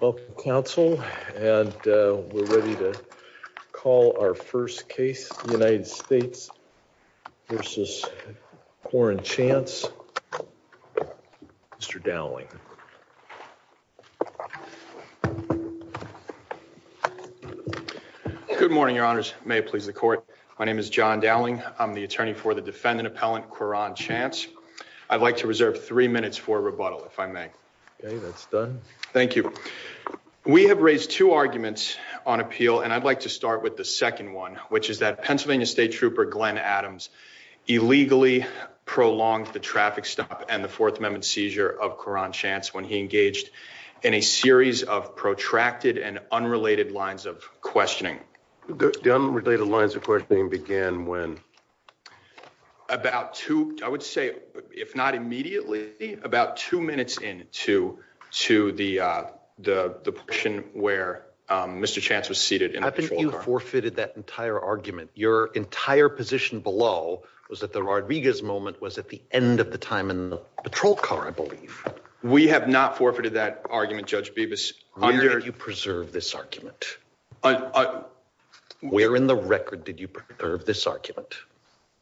Welcome, counsel, and we're ready to call our first case, the United States v. Quoron Chance. Mr. Dowling. Good morning, your honors. May it please the court. My name is John Dowling. I'm the attorney for the defendant appellant Quoron Chance. I'd like to reserve three minutes for rebuttal if I may. That's done. Thank you. We have raised two arguments on appeal, and I'd like to start with the second one, which is that Pennsylvania State Trooper Glenn Adams illegally prolonged the traffic stop and the Fourth Amendment seizure of Quoron Chance when he engaged in a series of protracted and unrelated lines of questioning. The unrelated lines of questioning began when? About two, I would say, if not immediately, about two minutes into to the the portion where Mr. Chance was seated. I think you forfeited that entire argument. Your entire position below was that the Rodriguez moment was at the end of the time in the patrol car, I believe. We have not forfeited that argument, Judge Bibas. Where did you preserve this argument? Where in the record did you preserve this argument?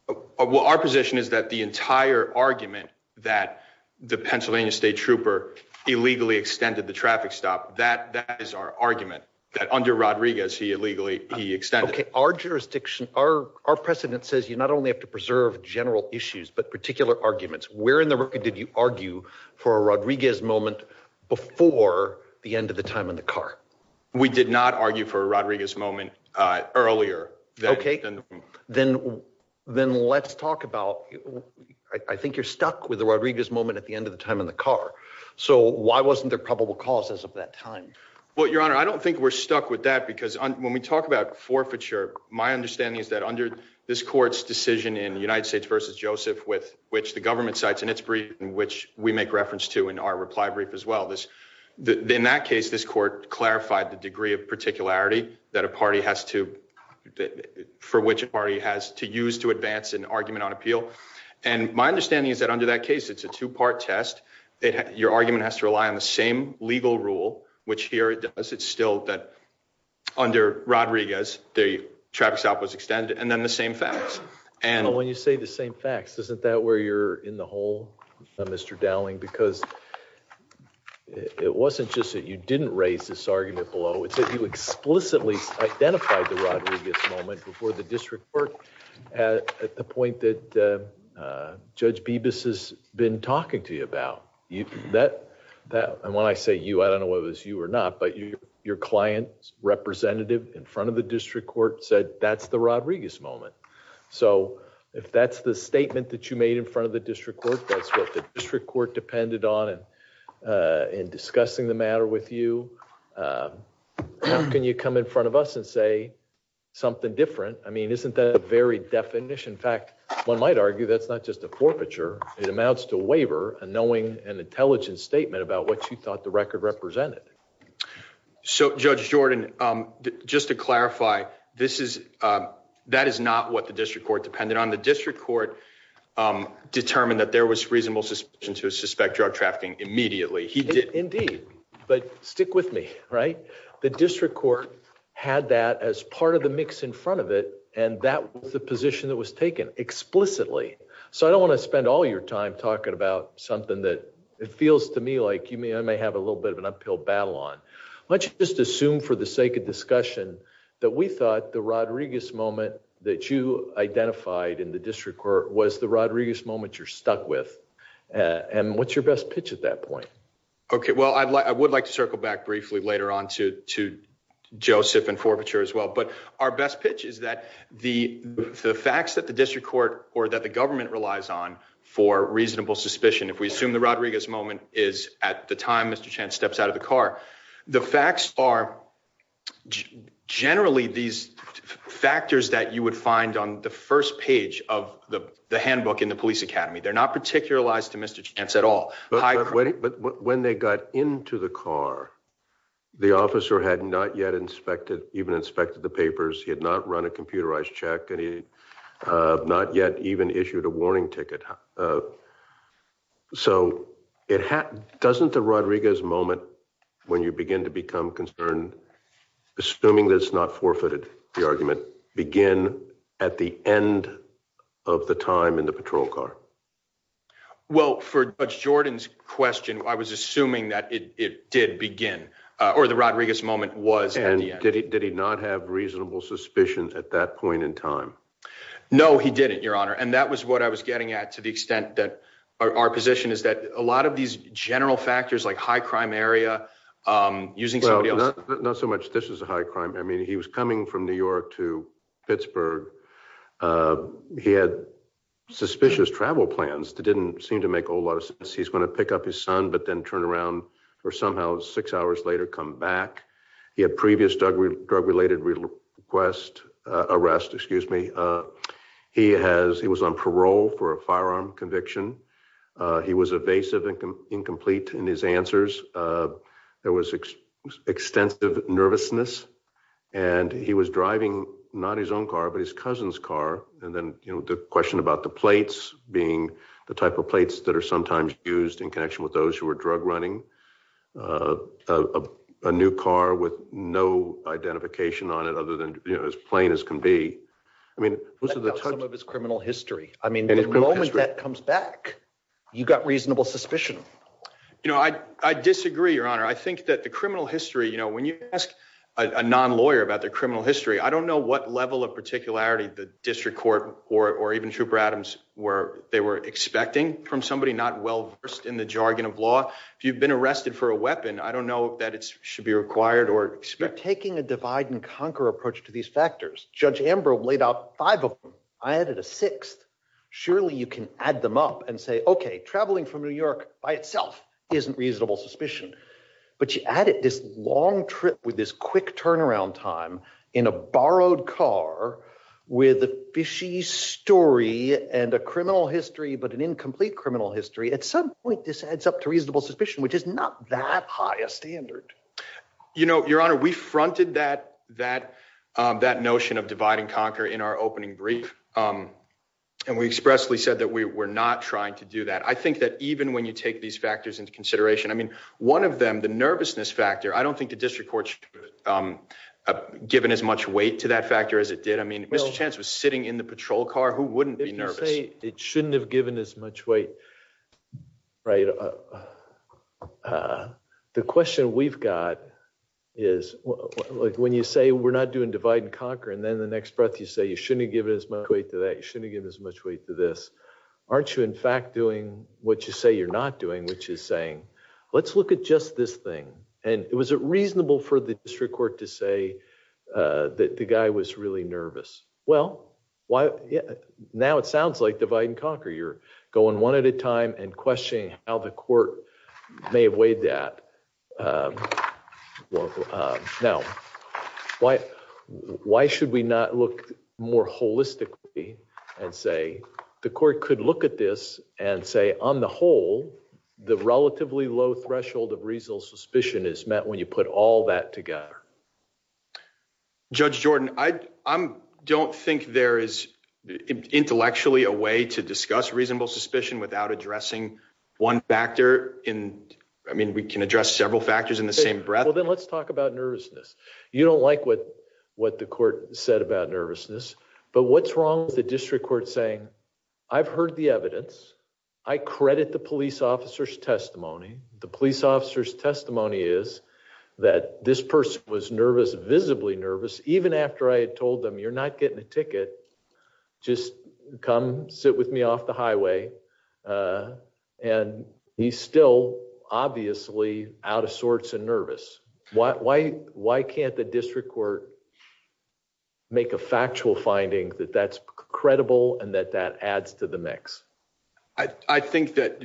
Well, our position is that the entire argument that the Pennsylvania State Trooper illegally extended the traffic stop, that that is our argument that under Rodriguez, he illegally he extended. OK, our jurisdiction, our our precedent says you not only have to preserve general issues, but particular arguments. Where in the record did you argue for a Rodriguez moment before the end of the time in the car? We did not argue for a Rodriguez moment earlier. OK, then then let's talk about I think you're stuck with the Rodriguez moment at the end of the time in the car. So why wasn't there probable causes of that time? Well, your honor, I don't think we're stuck with that because when we talk about forfeiture, my understanding is that under this court's decision in the United States versus Joseph with which the government cites in its brief in which we make reference to in our reply brief as well. This in that case, this court clarified the degree of particularity that a party has to for which party has to use to advance an argument on appeal. And my understanding is that under that case, it's a two part test. Your argument has to rely on the same legal rule, which here it does. It's still that under Rodriguez, the traffic stop was extended and then the same facts. And when you say the same facts, isn't that where you're in the hole, Mr. Dowling? Because it wasn't just that you didn't raise this argument below. It's that you explicitly identified the Rodriguez moment before the district court at the point that Judge Bibas has been talking to you about that. And when I say you, I don't know whether it's you or not, but your client representative in front of the district court said that's the Rodriguez moment. So if that's the statement that you made in front of the district court, that's what the district court depended on. And in discussing the matter with you, how can you come in front of us and say something different? I mean, isn't that a very definition? In fact, one might argue that's not just a forfeiture. It amounts to a waiver and knowing an intelligent statement about what you thought the record represented. So, Judge Jordan, just to clarify, this is that is not what the district court depended on. The district court determined that there was reasonable suspicion to suspect drug trafficking immediately. He did indeed. But stick with me. Right. The district court had that as part of the mix in front of it. And that was the position that was taken explicitly. So I don't want to spend all your time talking about something that it feels to me like you may or may have a little bit of an uphill battle on. Let's just assume for the sake of discussion that we thought the Rodriguez moment that you identified in the district court was the Rodriguez moment you're stuck with. And what's your best pitch at that point? OK, well, I would like to circle back briefly later on to to Joseph and forfeiture as well. But our best pitch is that the facts that the district court or that the government relies on for reasonable suspicion, if we assume the Rodriguez moment is at the time, Mr. Chance steps out of the car. The facts are generally these factors that you would find on the first page of the handbook in the police academy. They're not particular lies to Mr. Chance at all. But when they got into the car, the officer had not yet inspected, even inspected the papers. He had not run a computerized check and he not yet even issued a warning ticket. So it doesn't the Rodriguez moment when you begin to become concerned, assuming that it's not forfeited, the argument begin at the end of the time in the patrol car. Well, for Jordan's question, I was assuming that it did begin or the Rodriguez moment was. And did he did he not have reasonable suspicions at that point in time? No, he didn't, Your Honor. And that was what I was getting at to the extent that our position is that a lot of these general factors like high crime area using. Well, not so much. This is a high crime. I mean, he was coming from New York to Pittsburgh. He had suspicious travel plans that didn't seem to make a lot of sense. He's going to pick up his son, but then turn around for somehow six hours later, come back. He had previous drug related request arrest. Excuse me. He has he was on parole for a firearm conviction. He was evasive and incomplete in his answers. There was extensive nervousness and he was driving not his own car, but his cousin's car. And then, you know, the question about the plates being the type of plates that are sometimes used in connection with those who are drug running a new car with no identification on it other than, you know, as plain as can be. I mean, some of his criminal history. I mean, the moment that comes back, you got reasonable suspicion. You know, I disagree, Your Honor. I think that the criminal history, you know, when you ask a non lawyer about the criminal history, I don't know what level of particularity the district court or even Trooper Adams where they were expecting from somebody not well versed in the jargon of law. If you've been arrested for a weapon, I don't know that it should be required or taking a divide and conquer approach to these factors. Judge Amber laid out five of them. I added a sixth. Surely you can add them up and say, OK, traveling from New York by itself isn't reasonable suspicion. But you added this long trip with this quick turnaround time in a borrowed car with a fishy story and a criminal history, but an incomplete criminal history. At some point, this adds up to reasonable suspicion, which is not that high a standard. You know, Your Honor, we fronted that that that notion of divide and conquer in our opening brief, and we expressly said that we were not trying to do that. I think that even when you take these factors into consideration, I mean, one of them, the nervousness factor. I don't think the district court given as much weight to that factor as it did. I mean, Mr. Chance was sitting in the patrol car. Who wouldn't be nervous? It shouldn't have given as much weight. Right. The question we've got is when you say we're not doing divide and conquer, and then the next breath, you say you shouldn't give it as much weight to that. You shouldn't give as much weight to this. Aren't you, in fact, doing what you say you're not doing, which is saying, let's look at just this thing. And it was reasonable for the district court to say that the guy was really nervous. Well, why? Now it sounds like divide and conquer. You're going one at a time and questioning how the court may have weighed that. Well, now, why why should we not look more holistically and say the court could look at this and say, on the whole, the relatively low threshold of reasonable suspicion is met when you put all that together. Judge Jordan, I don't think there is intellectually a way to discuss reasonable suspicion without addressing one factor in. I mean, we can address several factors in the same breath. Well, then let's talk about nervousness. You don't like what what the court said about nervousness. But what's wrong with the district court saying, I've heard the evidence. I credit the police officer's testimony. The police officer's testimony is that this person was nervous, visibly nervous. Even after I had told them, you're not getting a ticket. Just come sit with me off the highway. And he's still obviously out of sorts and nervous. Why? Why? Why can't the district court make a factual finding that that's credible and that that adds to the mix? I think that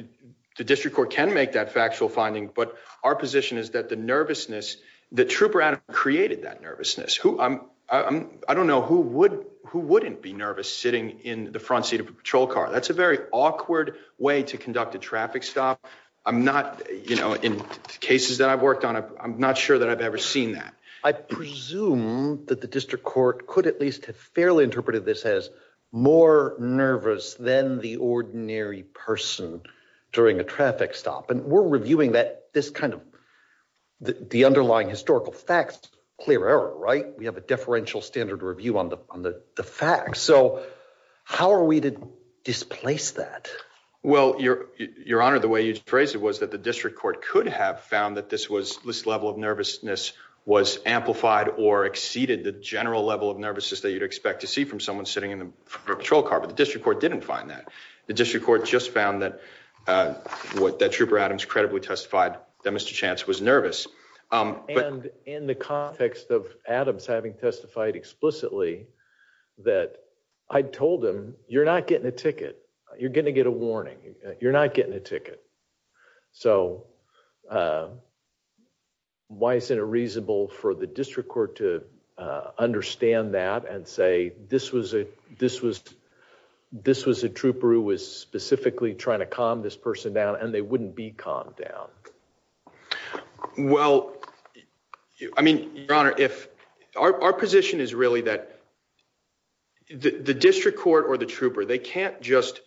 the district court can make that factual finding. But our position is that the nervousness, the troop around created that nervousness who I'm I don't know who would who wouldn't be nervous sitting in the front seat of a patrol car. That's a very awkward way to conduct a traffic stop. I'm not you know, in cases that I've worked on, I'm not sure that I've ever seen that. I presume that the district court could at least have fairly interpreted this as more nervous than the ordinary person during a traffic stop. And we're reviewing that this kind of the underlying historical facts, clear error. Right. We have a deferential standard review on the facts. So how are we to displace that? Well, your your honor, the way you phrase it was that the district court could have found that this was this level of nervousness was amplified or exceeded the general level of nervousness that you'd expect to see from someone sitting in the patrol car. But the district court didn't find that the district court just found that what that trooper Adams credibly testified that Mr. Chance was nervous. And in the context of Adams having testified explicitly that I told him you're not getting a ticket, you're going to get a warning. You're not getting a ticket. So why isn't it reasonable for the district court to understand that and say this was a this was this was a trooper who was specifically trying to calm this person down and they wouldn't be calm down? Well, I mean, your honor, if our position is really that the district court or the trooper, they can't just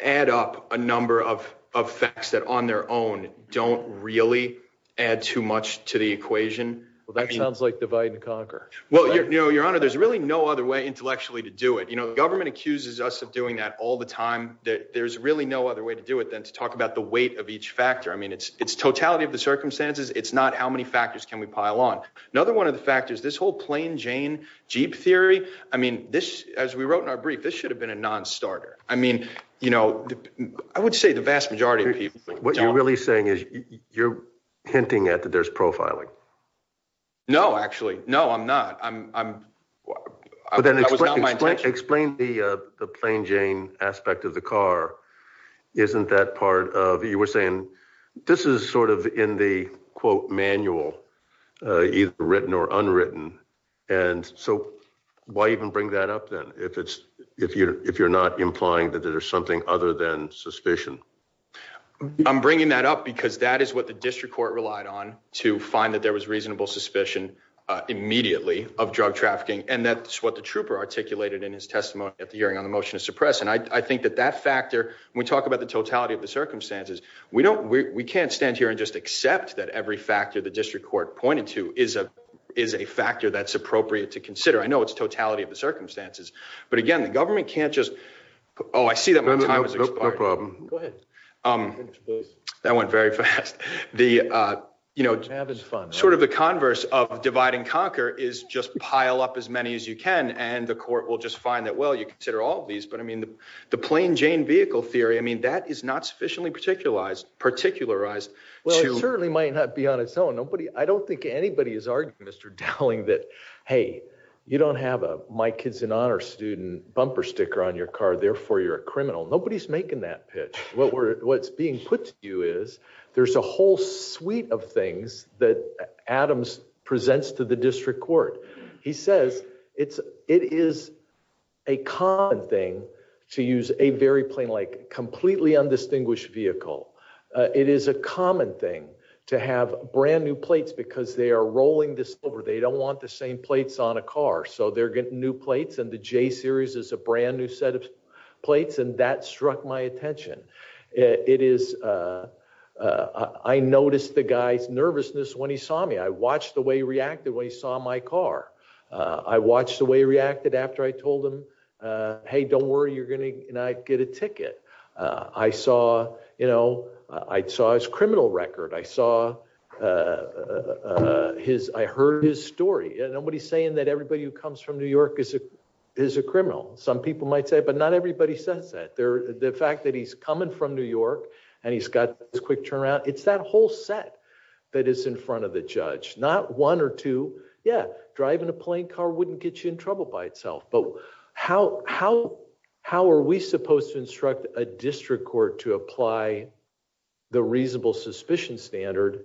add up a number of of facts that on their own don't really add too much to the equation. Well, that sounds like divide and conquer. Well, you know, your honor, there's really no other way intellectually to do it. You know, the government accuses us of doing that all the time, that there's really no other way to do it than to talk about the weight of each factor. I mean, it's it's totality of the circumstances. It's not how many factors can we pile on? Another one of the factors, this whole plain Jane Jeep theory. I mean, this, as we wrote in our brief, this should have been a nonstarter. I mean, you know, I would say the vast majority of people, what you're really saying is you're hinting at that there's profiling. No, actually, no, I'm not. But then explain the plain Jane aspect of the car. Isn't that part of you were saying this is sort of in the quote manual, either written or unwritten. And so why even bring that up, then, if it's if you're if you're not implying that there's something other than suspicion? I'm bringing that up because that is what the district court relied on to find that there was reasonable suspicion immediately of drug trafficking. And that's what the trooper articulated in his testimony at the hearing on the motion to suppress. And I think that that factor, we talk about the totality of the circumstances. We don't we can't stand here and just accept that every factor the district court pointed to is a is a factor that's appropriate to consider. I know it's totality of the circumstances, but again, the government can't just. Oh, I see that. No problem. Go ahead. That went very fast. The, you know, sort of the converse of divide and conquer is just pile up as many as you can. And the court will just find that. Well, you consider all of these. But I mean, the plain Jane vehicle theory, I mean, that is not sufficiently particularized, particularized. Well, it certainly might not be on its own. Nobody. I don't think anybody is arguing, Mr. Dowling, that, hey, you don't have a my kids in honor student bumper sticker on your car. Therefore, you're a criminal. Nobody's making that pitch. What we're what's being put to you is there's a whole suite of things that Adams presents to the district court. He says it's it is a common thing to use a very plain, like completely undistinguished vehicle. It is a common thing to have brand new plates because they are rolling this over. They don't want the same plates on a car. So they're getting new plates. And the J series is a brand new set of plates. And that struck my attention. It is. I noticed the guy's nervousness when he saw me. I watched the way he reacted when he saw my car. I watched the way he reacted after I told him, hey, don't worry, you're going to get a ticket. I saw, you know, I saw his criminal record. I saw his I heard his story. Nobody's saying that everybody who comes from New York is a is a criminal. Some people might say, but not everybody says that. They're the fact that he's coming from New York and he's got this quick turnaround. It's that whole set that is in front of the judge. Not one or two. Yeah. Driving a plane car wouldn't get you in trouble by itself. But how how how are we supposed to instruct a district court to apply the reasonable suspicion standard?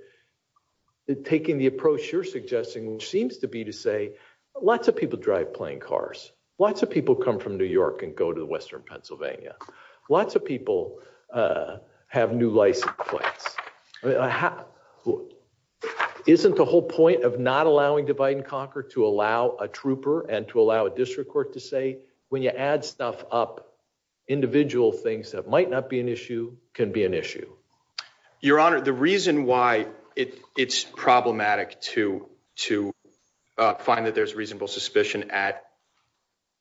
Taking the approach you're suggesting, which seems to be to say lots of people drive plane cars. Lots of people come from New York and go to the western Pennsylvania. Lots of people have new license plates. Isn't the whole point of not allowing divide and conquer to allow a trooper and to allow a district court to say when you add stuff up, individual things that might not be an issue can be an issue. Your Honor, the reason why it's problematic to to find that there's reasonable suspicion at.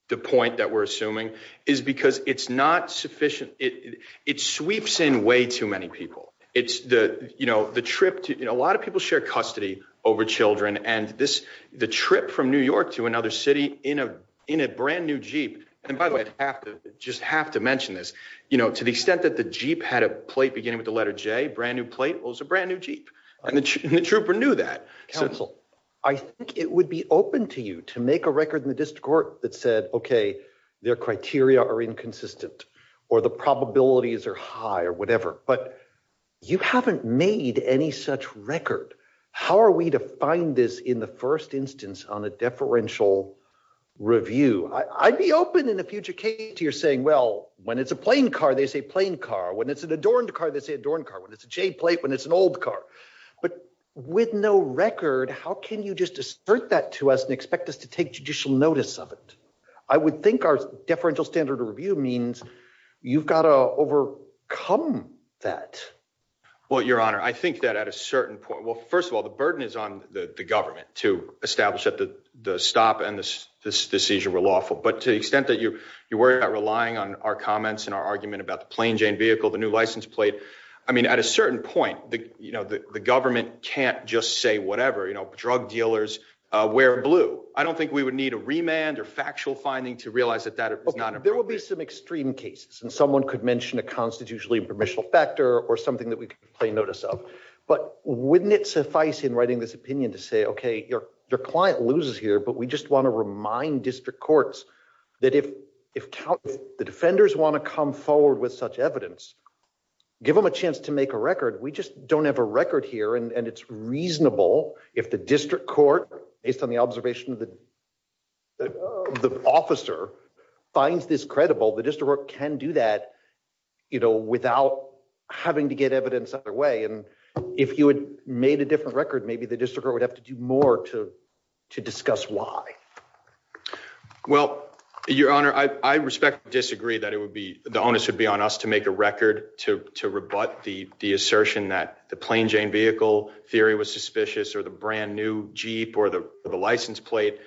The point that we're assuming is because it's not sufficient. It sweeps in way too many people. It's the you know, the trip to a lot of people share custody over children. And this the trip from New York to another city in a in a brand new Jeep. And by the way, I have to just have to mention this. You know, to the extent that the Jeep had a plate beginning with the letter J brand new plate was a brand new Jeep. And the trooper knew that council. I think it would be open to you to make a record in the district court that said, OK, their criteria are inconsistent or the probabilities are high or whatever. But you haven't made any such record. How are we to find this in the first instance on a deferential review? I'd be open in a future case to you're saying, well, when it's a plane car, they say plane car. When it's an adorned car, they say adorned car. When it's a J plate, when it's an old car. But with no record, how can you just assert that to us and expect us to take judicial notice of it? I would think our deferential standard review means you've got to overcome that. Well, your honor, I think that at a certain point. Well, first of all, the burden is on the government to establish that the stop and this decision were lawful. But to the extent that you you worry about relying on our comments and our argument about the plain Jane vehicle, the new license plate. I mean, at a certain point, you know, the government can't just say whatever, you know, drug dealers wear blue. I don't think we would need a remand or factual finding to realize that that there will be some extreme cases. And someone could mention a constitutionally permissional factor or something that we can play notice of. But wouldn't it suffice in writing this opinion to say, OK, your your client loses here. But we just want to remind district courts that if if the defenders want to come forward with such evidence, give them a chance to make a record. We just don't have a record here. And it's reasonable if the district court, based on the observation of the. The officer finds this credible, the district can do that, you know, without having to get evidence either way. And if you had made a different record, maybe the district would have to do more to to discuss why. Well, your honor, I respect disagree that it would be the onus would be on us to make a record to to rebut the assertion that the plain Jane vehicle theory was suspicious or the brand new Jeep or the license plate.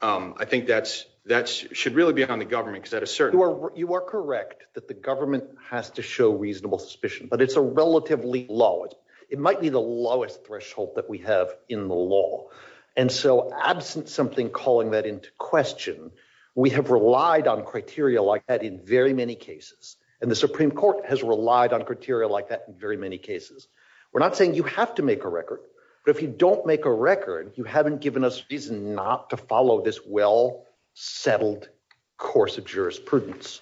I think that's that's should really be on the government because that is certainly where you are correct, that the government has to show reasonable suspicion. But it's a relatively low. It might be the lowest threshold that we have in the law. And so absent something calling that into question, we have relied on criteria like that in very many cases. And the Supreme Court has relied on criteria like that in very many cases. We're not saying you have to make a record, but if you don't make a record, you haven't given us reason not to follow this well settled course of jurisprudence.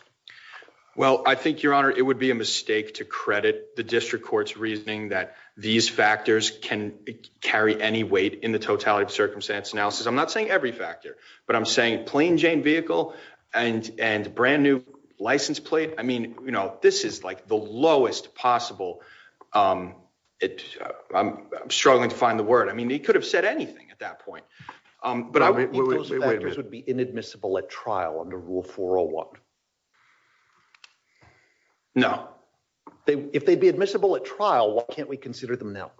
Well, I think your honor, it would be a mistake to credit the district court's reasoning that these factors can carry any weight in the totality of circumstance analysis. I'm not saying every factor, but I'm saying plain Jane vehicle and and brand new license plate. I mean, you know, this is like the lowest possible. I'm struggling to find the word. I mean, he could have said anything at that point, but I would be inadmissible at trial under rule for a one. No, if they'd be admissible at trial, why can't we consider them now?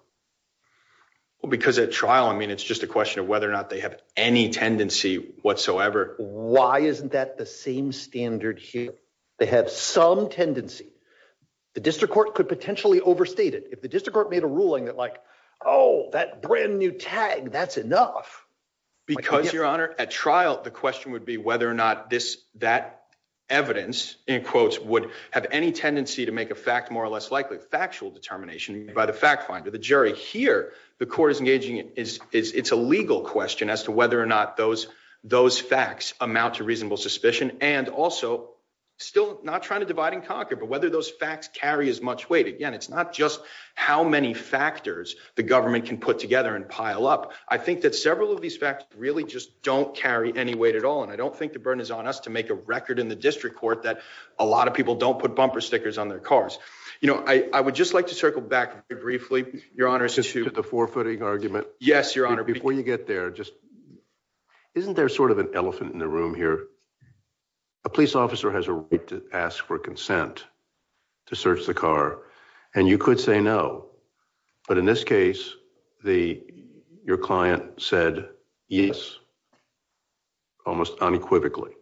Well, because at trial, I mean, it's just a question of whether or not they have any tendency whatsoever. Why isn't that the same standard here? They have some tendency. The district court could potentially overstated if the district court made a ruling that like, oh, that brand new tag, that's enough because your honor at trial. The question would be whether or not this that evidence in quotes would have any tendency to make a fact more or less likely factual determination by the fact finder. The jury here, the court is engaging is it's a legal question as to whether or not those those facts amount to reasonable suspicion. And also still not trying to divide and conquer, but whether those facts carry as much weight. Again, it's not just how many factors the government can put together and pile up. I think that several of these facts really just don't carry any weight at all. And I don't think the burden is on us to make a record in the district court that a lot of people don't put bumper stickers on their cars. You know, I would just like to circle back briefly, your honor, to the forfeiting argument. Yes, your honor. Before you get there, just isn't there sort of an elephant in the room here? A police officer has a right to ask for consent to search the car and you could say no. But in this case, the your client said yes. Almost unequivocally.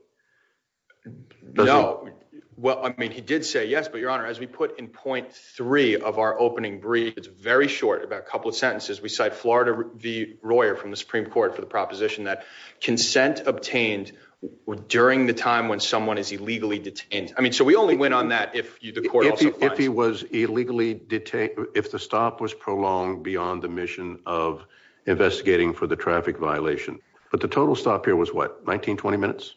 No. Well, I mean, he did say yes. But your honor, as we put in point three of our opening brief, it's very short, about a couple of sentences. We cite Florida v. Royer from the Supreme Court for the proposition that consent obtained during the time when someone is illegally detained. I mean, so we only went on that if the court if he was illegally detained, if the stop was prolonged beyond the mission of investigating for the traffic violation. But the total stop here was what, 19, 20 minutes?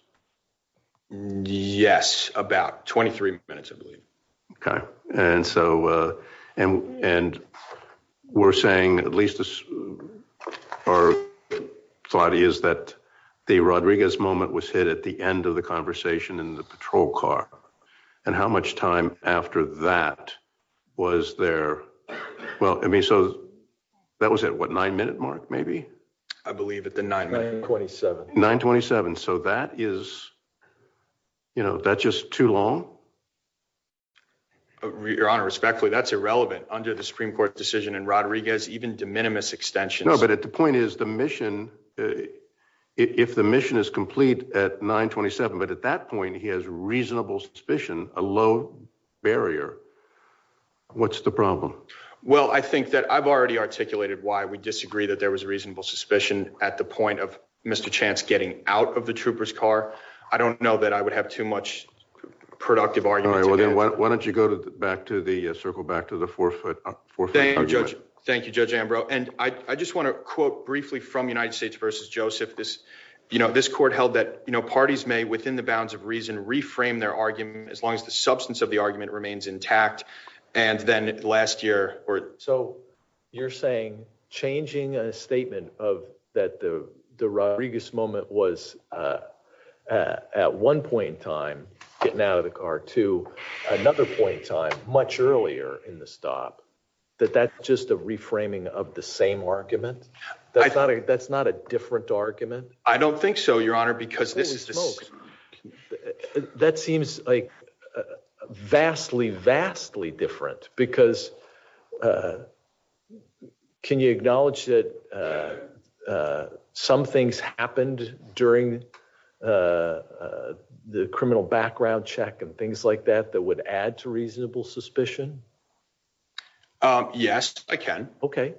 Yes, about 23 minutes, I believe. OK. And so and and we're saying at least as far as that the Rodriguez moment was hit at the end of the conversation in the patrol car. And how much time after that was there? Well, I mean, so that was at what, nine minute mark, maybe. I believe at the nine, nine, twenty seven, nine, twenty seven. So that is, you know, that's just too long. Your honor, respectfully, that's irrelevant under the Supreme Court decision. And Rodriguez even de minimis extension. No, but at the point is the mission, if the mission is complete at nine, twenty seven. But at that point, he has reasonable suspicion, a low barrier. What's the problem? Well, I think that I've already articulated why we disagree that there was a reasonable suspicion at the point of Mr. Chance getting out of the trooper's car. I don't know that I would have too much productive argument. Why don't you go back to the circle, back to the forefoot? Thank you, Judge. Thank you, Judge Ambrose. And I just want to quote briefly from United States versus Joseph. This you know, this court held that parties may within the bounds of reason reframe their argument as long as the substance of the argument remains intact. And then last year or so, you're saying changing a statement of that. The Rodriguez moment was at one point in time, getting out of the car to another point in time, much earlier in the stop that that's just a reframing of the same argument. I thought that's not a different argument. I don't think so, Your Honor, because this is that seems like vastly, vastly different because can you acknowledge that some things happened during the criminal background check and things like that that would add to reasonable suspicion? Yes, I can. OK,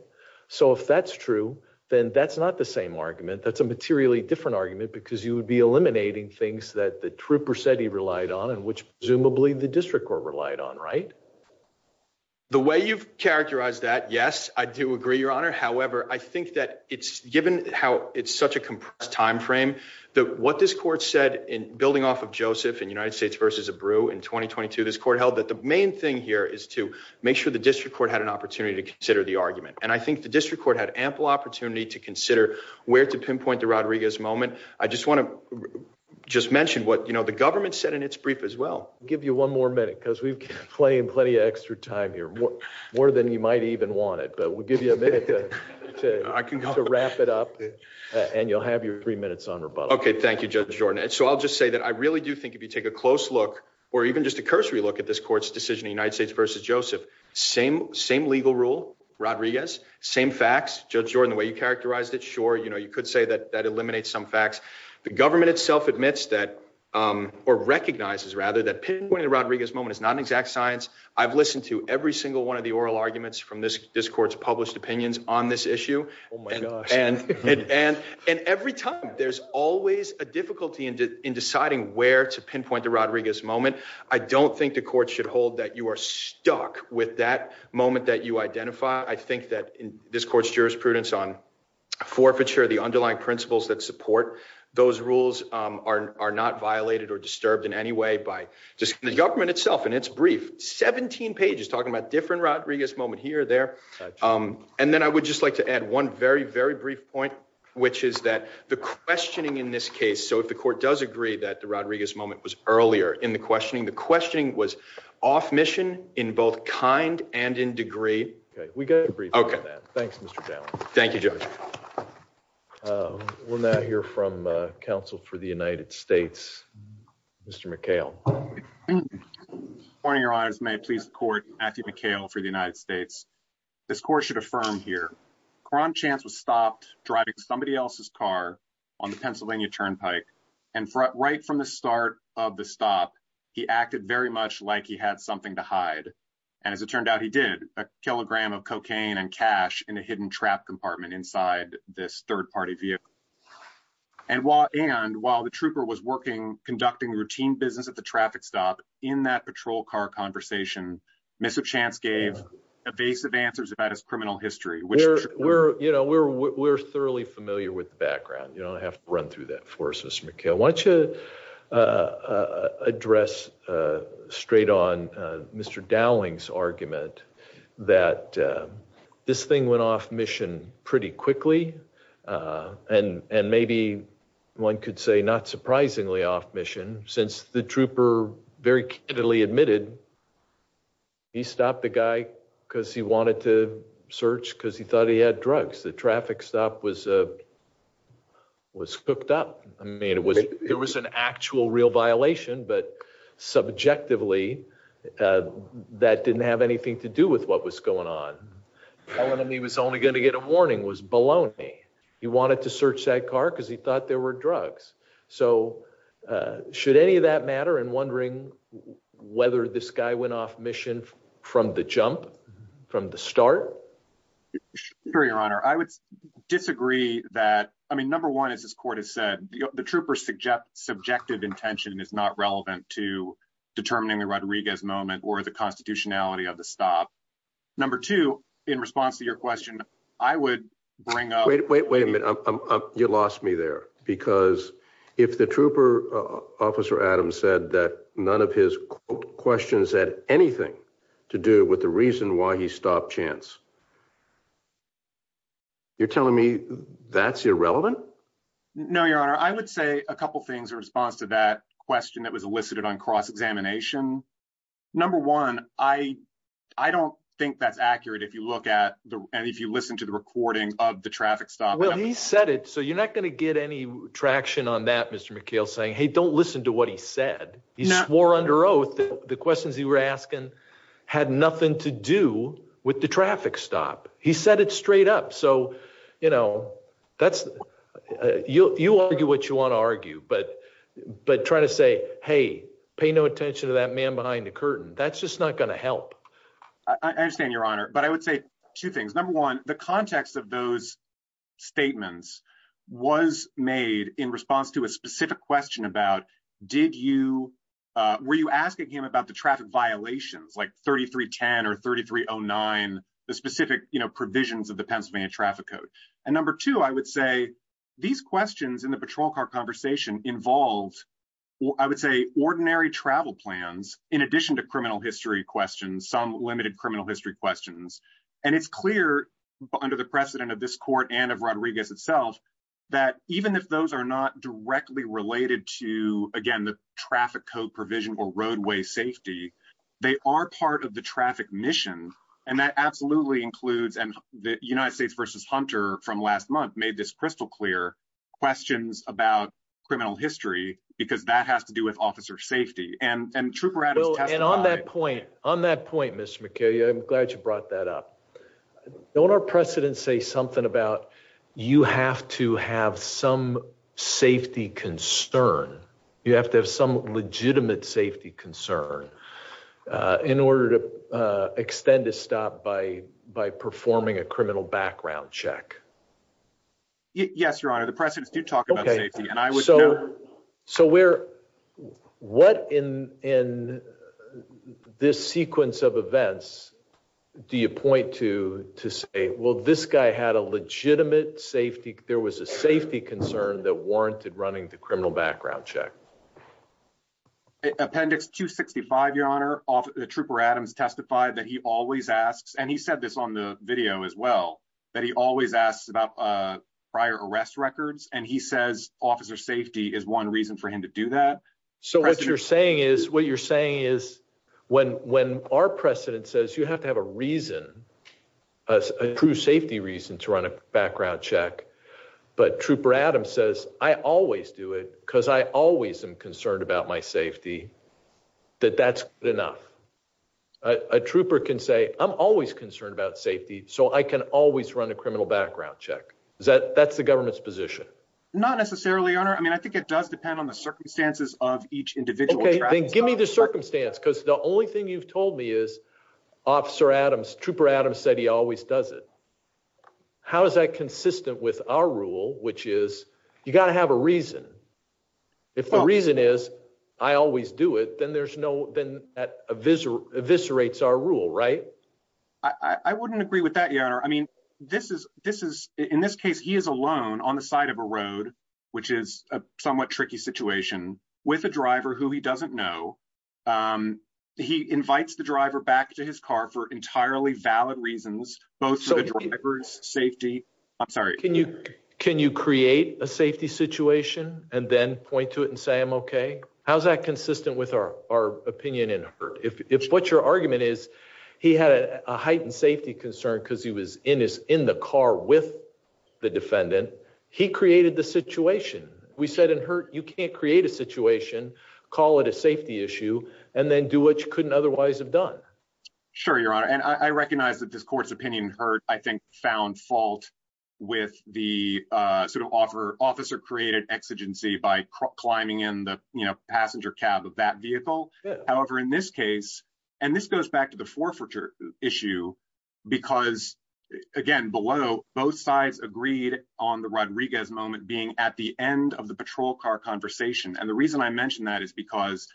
so if that's true, then that's not the same argument. That's a materially different argument because you would be eliminating things that the trooper said he relied on and which presumably the district court relied on. Right. The way you've characterized that. Given how it's such a compressed time frame that what this court said in building off of Joseph in United States versus a brew in 2022, this court held that the main thing here is to make sure the district court had an opportunity to consider the argument. And I think the district court had ample opportunity to consider where to pinpoint the Rodriguez moment. I just want to just mention what the government said in its brief as well. I'll give you one more minute because we've got plenty and plenty of extra time here, more than you might even want it. But we'll give you a minute to wrap it up and you'll have your three minutes on rebuttal. OK, thank you, Judge Jordan. So I'll just say that I really do think if you take a close look or even just a cursory look at this court's decision, the United States versus Joseph. Same same legal rule. Rodriguez, same facts. Judge Jordan, the way you characterized it. Sure. You know, you could say that that eliminates some facts. The government itself admits that or recognizes rather that pinpointing the Rodriguez moment is not an exact science. I've listened to every single one of the oral arguments from this this court's published opinions on this issue. Oh, my God. And and and every time there's always a difficulty in deciding where to pinpoint the Rodriguez moment. I don't think the court should hold that you are stuck with that moment that you identify. I think that in this court's jurisprudence on forfeiture, the underlying principles that support those rules are not violated or disturbed in any way by just the government itself. And it's brief. 17 pages talking about different Rodriguez moment here, there. And then I would just like to add one very, very brief point, which is that the questioning in this case. So if the court does agree that the Rodriguez moment was earlier in the questioning, the questioning was off mission in both kind and in degree. We got to agree. OK. Thanks, Mr. Thank you. We're not here from counsel for the United States. Mr. McHale. Morning, your eyes may please the court. Matthew McHale for the United States. This court should affirm here. Cron chance was stopped driving somebody else's car on the Pennsylvania turnpike. And right from the start of the stop, he acted very much like he had something to hide. And as it turned out, he did a kilogram of cocaine and cash in a hidden trap compartment inside this third party vehicle. And while and while the trooper was working, conducting routine business at the traffic stop in that patrol car conversation, Mr. Chance gave evasive answers about his criminal history, which we're you know, we're we're thoroughly familiar with the background. You don't have to run through that for us. Mr. McHale wants to address straight on. Mr. Dowling's argument that this thing went off mission pretty quickly. And and maybe one could say, not surprisingly, off mission since the trooper very clearly admitted. He stopped the guy because he wanted to search because he thought he had drugs. The traffic stop was was hooked up. I mean, it was it was an actual real violation. But subjectively, that didn't have anything to do with what was going on. He was only going to get a warning was baloney. He wanted to search that car because he thought there were drugs. So should any of that matter? And wondering whether this guy went off mission from the jump, from the start? Your Honor, I would disagree that. I mean, number one, as this court has said, the trooper suggest subjective intention is not relevant to determining the Rodriguez moment or the constitutionality of the stop. Number two, in response to your question, I would bring up. Wait, wait, wait a minute. You lost me there because if the trooper officer, Adam said that none of his questions had anything to do with the reason why he stopped chance. You're telling me that's irrelevant. No, Your Honor, I would say a couple of things in response to that question that was elicited on cross examination. Number one, I I don't think that's accurate. If you look at the and if you listen to the recording of the traffic stop, he said it. So you're not going to get any traction on that. Mr. McHale saying, hey, don't listen to what he said. He swore under oath that the questions he were asking had nothing to do with the traffic stop. He said it straight up. So, you know, that's you. You argue what you want to argue. But but trying to say, hey, pay no attention to that man behind the curtain. That's just not going to help. I understand, Your Honor, but I would say two things. Number one, the context of those statements was made in response to a specific question about did you were you asking him about the traffic violations like thirty three ten or thirty three oh nine? The specific provisions of the Pennsylvania traffic code. And number two, I would say these questions in the patrol car conversation involved, I would say, ordinary travel plans in addition to criminal history questions, some limited criminal history questions. And it's clear under the precedent of this court and of Rodriguez itself that even if those are not directly related to, again, the traffic code provision or roadway safety, they are part of the traffic mission. And that absolutely includes and the United States versus Hunter from last month made this crystal clear questions about criminal history because that has to do with officer safety and trooper. And on that point, on that point, Mr. McKay, I'm glad you brought that up. Don't our precedents say something about you have to have some safety concern? You have to have some legitimate safety concern in order to extend a stop by by performing a criminal background check. Yes, your honor, the precedents do talk about safety and I was so so where what in in this sequence of events do you point to to say, well, this guy had a legitimate safety. There was a safety concern that warranted running the criminal background check. Appendix 265, your honor, the trooper Adams testified that he always asks and he said this on the video as well, that he always asks about prior arrest records and he says officer safety is one reason for him to do that. So what you're saying is what you're saying is when when our precedent says you have to have a reason as a true safety reason to run a background check. But Trooper Adams says, I always do it because I always am concerned about my safety, that that's enough. A trooper can say, I'm always concerned about safety so I can always run a criminal background check that that's the government's position. Not necessarily, I mean, I think it does depend on the circumstances of each individual. Give me the circumstance because the only thing you've told me is officer Adams Trooper Adams said he always does it. How is that consistent with our rule, which is, you got to have a reason. If the reason is, I always do it then there's no then that eviscerates eviscerates our rule right. I wouldn't agree with that, you know, I mean, this is, this is, in this case, he is alone on the side of a road, which is a somewhat tricky situation with a driver who he doesn't know. He invites the driver back to his car for entirely valid reasons, both drivers safety. I'm sorry, can you can you create a safety situation, and then point to it and say I'm okay. How's that consistent with our, our opinion in hurt if it's what your argument is, he had a heightened safety concern because he was in his in the car with the defendant. He created the situation, we said in hurt you can't create a situation, call it a safety issue, and then do what you couldn't otherwise have done. Sure, your honor and I recognize that this court's opinion hurt, I think, found fault with the sort of offer officer created exigency by climbing in the, you know, passenger cab of that vehicle. However, in this case, and this goes back to the forfeiture issue. Because, again, below both sides agreed on the Rodriguez moment being at the end of the patrol car conversation and the reason I mentioned that is because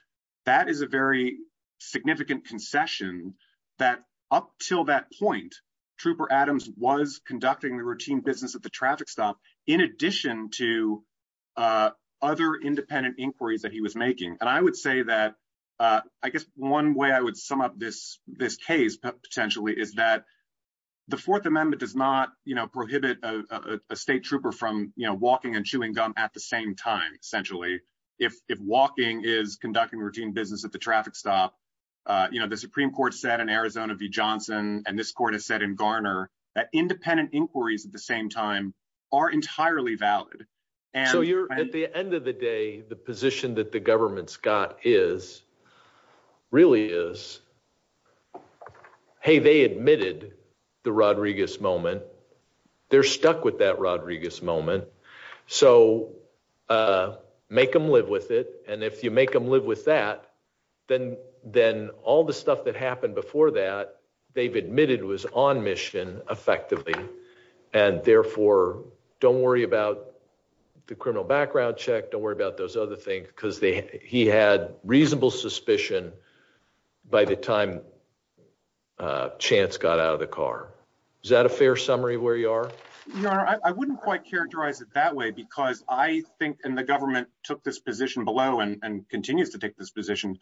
that is a very significant concession that up till that point, trooper Adams was conducting the routine business at the traffic stop. In addition to other independent inquiries that he was making, and I would say that, I guess, one way I would sum up this, this case potentially is that the Fourth Amendment does not, you know, prohibit a state trooper from, you know, if walking is conducting routine business at the traffic stop, you know, the Supreme Court said in Arizona v Johnson, and this court has said in Garner that independent inquiries at the same time are entirely valid. And so you're at the end of the day, the position that the government Scott is really is. Hey, they admitted the Rodriguez moment. They're stuck with that Rodriguez moment. So, make them live with it. And if you make them live with that, then, then all the stuff that happened before that, they've admitted was on mission, effectively. And therefore, don't worry about the criminal background check don't worry about those other things because they he had reasonable suspicion. By the time chance got out of the car. Is that a fair summary where you are. No, I wouldn't quite characterize it that way because I think in the government took this position below and continues to take this position. And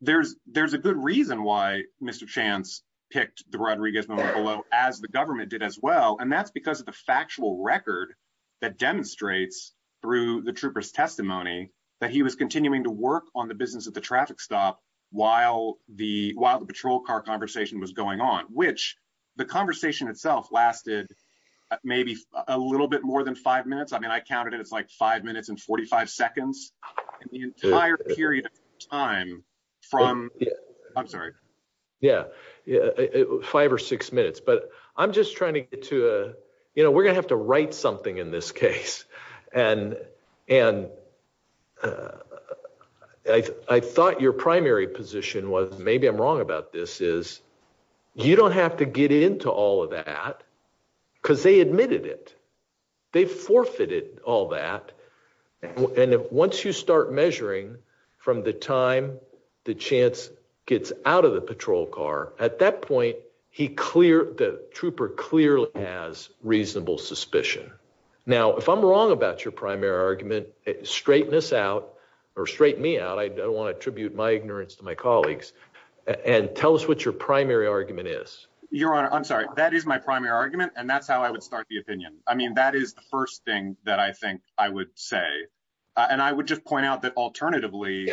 there's, there's a good reason why Mr chance picked the Rodriguez moment below, as the government did as well and that's because of the factual record that demonstrates through the troopers testimony that he was continuing to work on the business at the traffic stop, while the while the patrol car conversation was going on, which the conversation itself lasted, maybe a little bit more than five minutes I mean I counted it it's like five minutes and 45 seconds, the entire period of time from. I'm sorry. Yeah, five or six minutes but I'm just trying to get to a, you know, we're gonna have to write something in this case, and, and I thought your primary position was maybe I'm wrong about this is, you don't have to get into all of that, because they admitted it. They forfeited all that. And once you start measuring from the time, the chance gets out of the patrol car, at that point, he clear the trooper clearly has reasonable suspicion. Now if I'm wrong about your primary argument, straighten this out or straighten me out I don't want to attribute my ignorance to my colleagues and tell us what your primary argument is your honor I'm sorry, that is my primary argument and that's how I would start the opinion. I mean that is the first thing that I think I would say, and I would just point out that alternatively,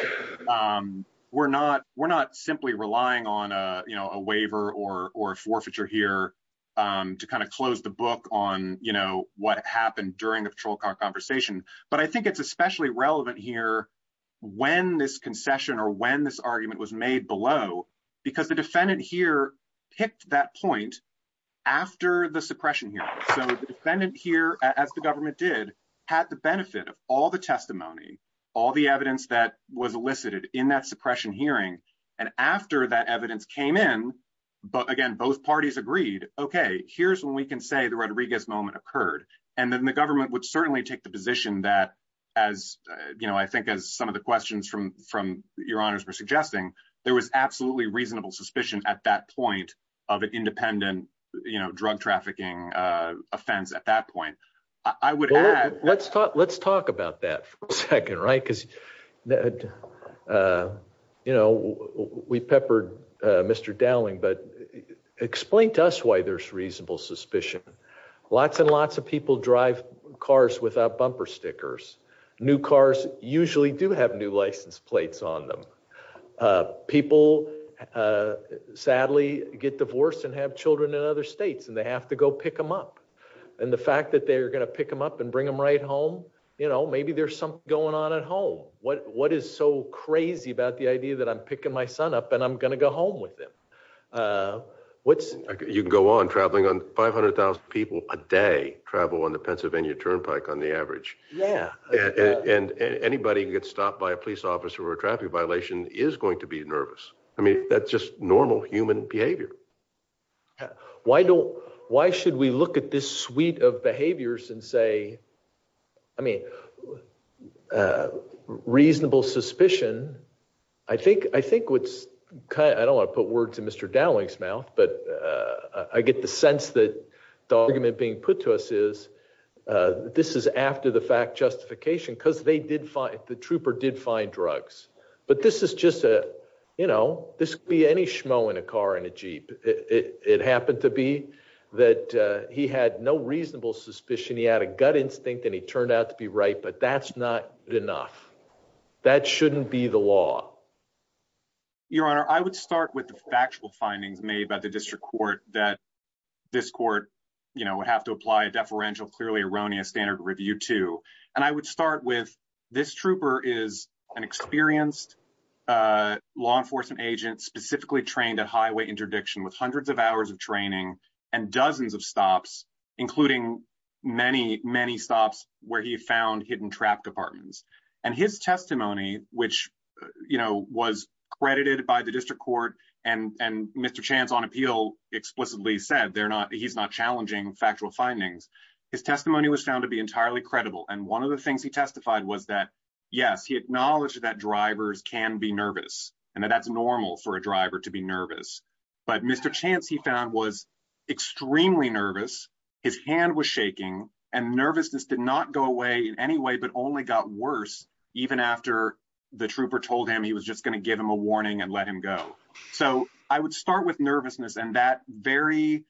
we're not, we're not simply relying on a, you know, a waiver or or forfeiture here to kind of close the book on, you know, what happened during the patrol car The defendant here, as the government did have the benefit of all the testimony, all the evidence that was elicited in that suppression hearing. And after that evidence came in. But again, both parties agreed, okay, here's when we can say the Rodriguez moment occurred, and then the government would certainly take the position that, as you know I think as some of the questions from from your honors were suggesting, there was absolutely reasonable suspicion at that point of an independent, you know, drug trafficking offense at that point, I would add, let's talk let's talk about that second right because that, you know, we peppered Mr Dowling but explain to us why there's reasonable suspicion. Lots and lots of people drive cars without bumper stickers new cars, usually do have new license plates on them. People, sadly, get divorced and have children in other states and they have to go pick them up. And the fact that they're going to pick them up and bring them right home. You know, maybe there's something going on at home, what, what is so crazy about the idea that I'm picking my son up and I'm going to go home with him. What's you go on traveling on 500,000 people a day travel on the Pennsylvania Turnpike on the average. Yeah. And anybody gets stopped by a police officer or a traffic violation is going to be nervous. I mean, that's just normal human behavior. Why don't, why should we look at this suite of behaviors and say, I mean, reasonable suspicion. I think, I think what's kind of I don't want to put words in Mr Dowling's mouth but I get the sense that the argument being put to us is this is after the fact justification because they did find the trooper did find drugs, but this is just a, you know, this be any schmo in a car in a Jeep, it happened to be that he had no reasonable suspicion he had a gut instinct and he turned out to be right but that's not enough. That shouldn't be the law. Your Honor, I would start with the factual findings made by the district court that this court, you know, have to apply a deferential clearly erroneous standard review to, and I would start with this trooper is an experienced law enforcement agent specifically trained at highway interdiction with hundreds of hours of training, and dozens of stops, including many, many stops, where he found hidden trap departments, and his testimony, which, you know, was credited by the district court and and Mr chance on appeal explicitly said they're not he's not challenging factual findings. His testimony was found to be entirely credible and one of the things he testified was that, yes, he acknowledged that drivers can be nervous, and that that's normal for a driver to be nervous, but Mr chance he found was extremely nervous. His hand was shaking and nervousness did not go away in any way but only got worse. Even after the trooper told him he was just going to give him a warning and let him go. So, I would start with nervousness and that very,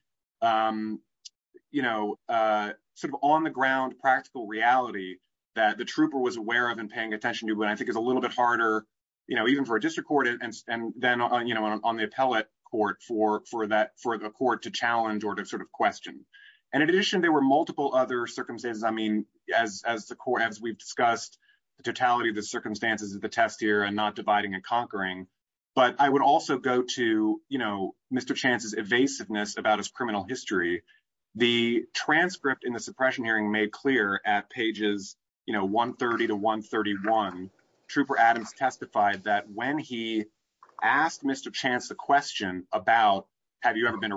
you know, sort of on the ground practical reality that the trooper was aware of and paying attention to what I think is a little bit harder, you know, even for a district court and then on you know on the appellate court for for that for the court to challenge or to sort of question. And in addition, there were multiple other circumstances I mean, as, as the court as we've discussed the totality of the circumstances of the test here and not dividing and conquering. But I would also go to, you know, Mr chances evasiveness about his criminal history. The transcript in the suppression hearing made clear at pages, you know 130 to 131 trooper Adams testified that when he asked Mr chance the question about, have you ever been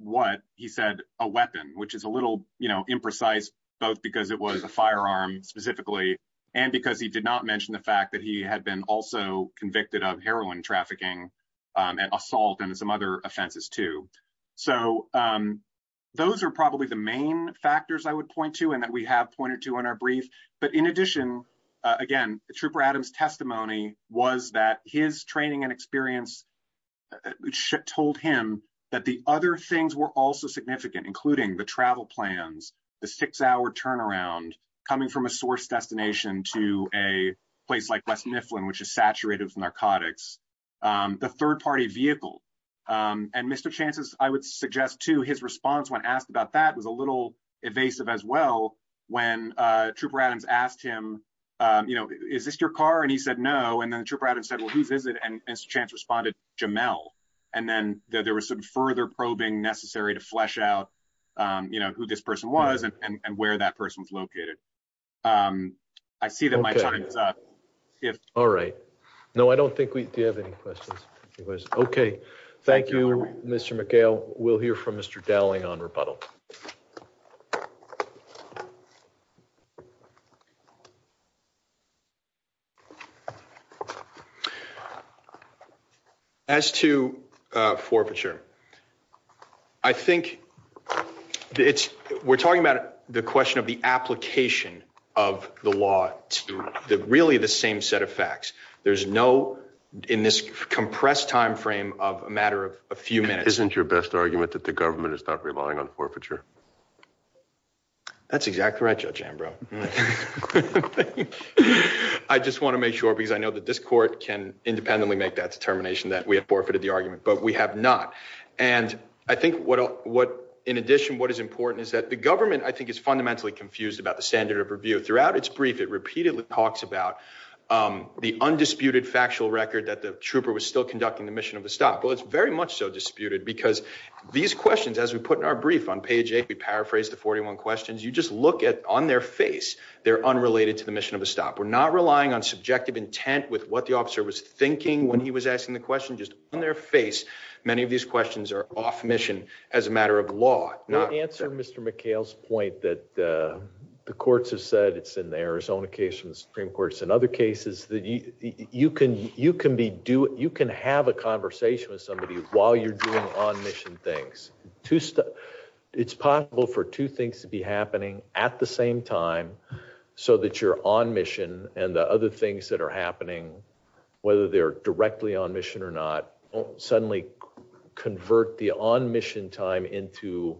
what he said, a weapon, which is a little, you know, imprecise, both because it was a firearm, specifically, and because he did not mention the fact that he had been also convicted of heroin trafficking and assault and some other offenses to. So, those are probably the main factors I would point to and that we have pointed to in our brief, but in addition, again, trooper Adams testimony was that his training and experience should told him that the other things were also significant including the travel I would suggest to his response when asked about that was a little evasive as well. When trooper Adams asked him, you know, is this your car and he said no and then the trooper out and said well who's is it and chance responded, Jamel, and then there was some further probing necessary to flesh out, you know, who this person was and where that person's located. I see that my time is up. All right. No, I don't think we have any questions. It was okay. Thank you, Mr McHale, we'll hear from Mr Dowling on rebuttal. As to forfeiture. I think it's, we're talking about the question of the application of the law, the really the same set of facts. There's no in this compressed timeframe of a matter of a few minutes isn't your best argument that the government is not relying on forfeiture. That's exactly right. We paraphrase the 41 questions you just look at on their face. They're unrelated to the mission of a stop we're not relying on subjective intent with what the officer was thinking when he was asking the question just on their face. Many of these questions are off mission as a matter of law, not answer Mr McHale's point that the courts have said it's in Arizona case from the Supreme Court and other cases that you can you can be do you can have a conversation with somebody, while you're doing on mission things to stop. It's possible for two things to be happening at the same time, so that you're on mission, and the other things that are happening, whether they're directly on mission or not suddenly convert the on mission time into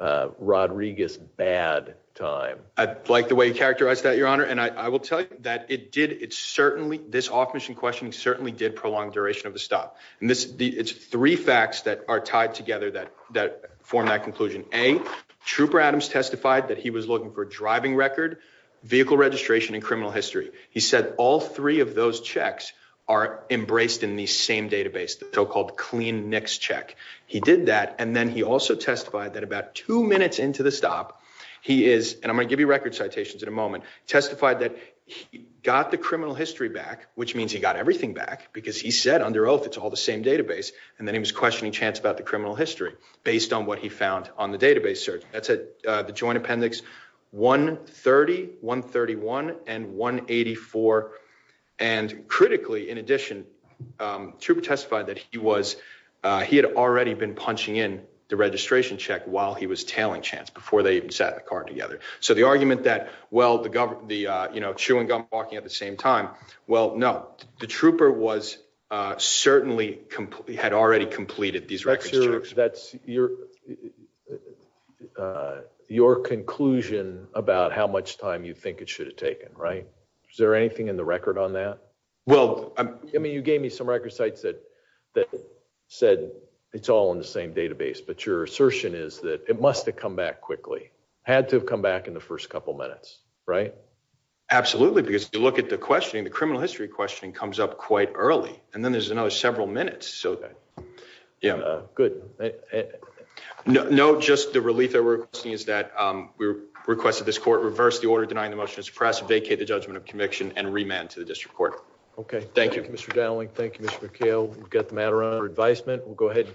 Rodriguez bad time. I like the way you characterize that your honor and I will tell you that it did it certainly this off mission question certainly did prolong duration of the stop, and this is the it's three facts that are tied together that that form that conclusion, a trooper Adams testified that he was looking for driving record vehicle registration and criminal history, he said, all three of those checks are embraced in the same database the so called clean next check. He did that and then he also testified that about two minutes into the stop. He is, and I'm going to give you record citations in a moment, testified that got the criminal history back, which means he got everything back because he said under oath it's all the same database, and then he was questioning chance about the criminal history, based on what he found on the database search, that's a joint appendix 130 131 and 184. And critically, in addition to testify that he was, he had already been punching in the registration check while he was telling chance before they even sat in the car together. So the argument that, well, the government, the, you know, chewing gum walking at the same time. Well, no, the trooper was certainly completely had already completed these records that's your, your conclusion about how much time you think it should have taken right. Is there anything in the record on that. Well, I mean you gave me some record sites that that said, it's all in the same database but your assertion is that it must have come back quickly had to come back in the first couple minutes. Right. Absolutely, because you look at the questioning the criminal history questioning comes up quite early, and then there's another several minutes so that. Yeah, good. No, just the relief that we're seeing is that we requested this court reverse the order denying the motion is press vacate the judgment of conviction and remand to the district court. Okay, thank you. Thank you, Mr. Dowling Thank you, Mr. McHale, we've got the matter on her advisement, we'll go ahead and call the meeting adjourned.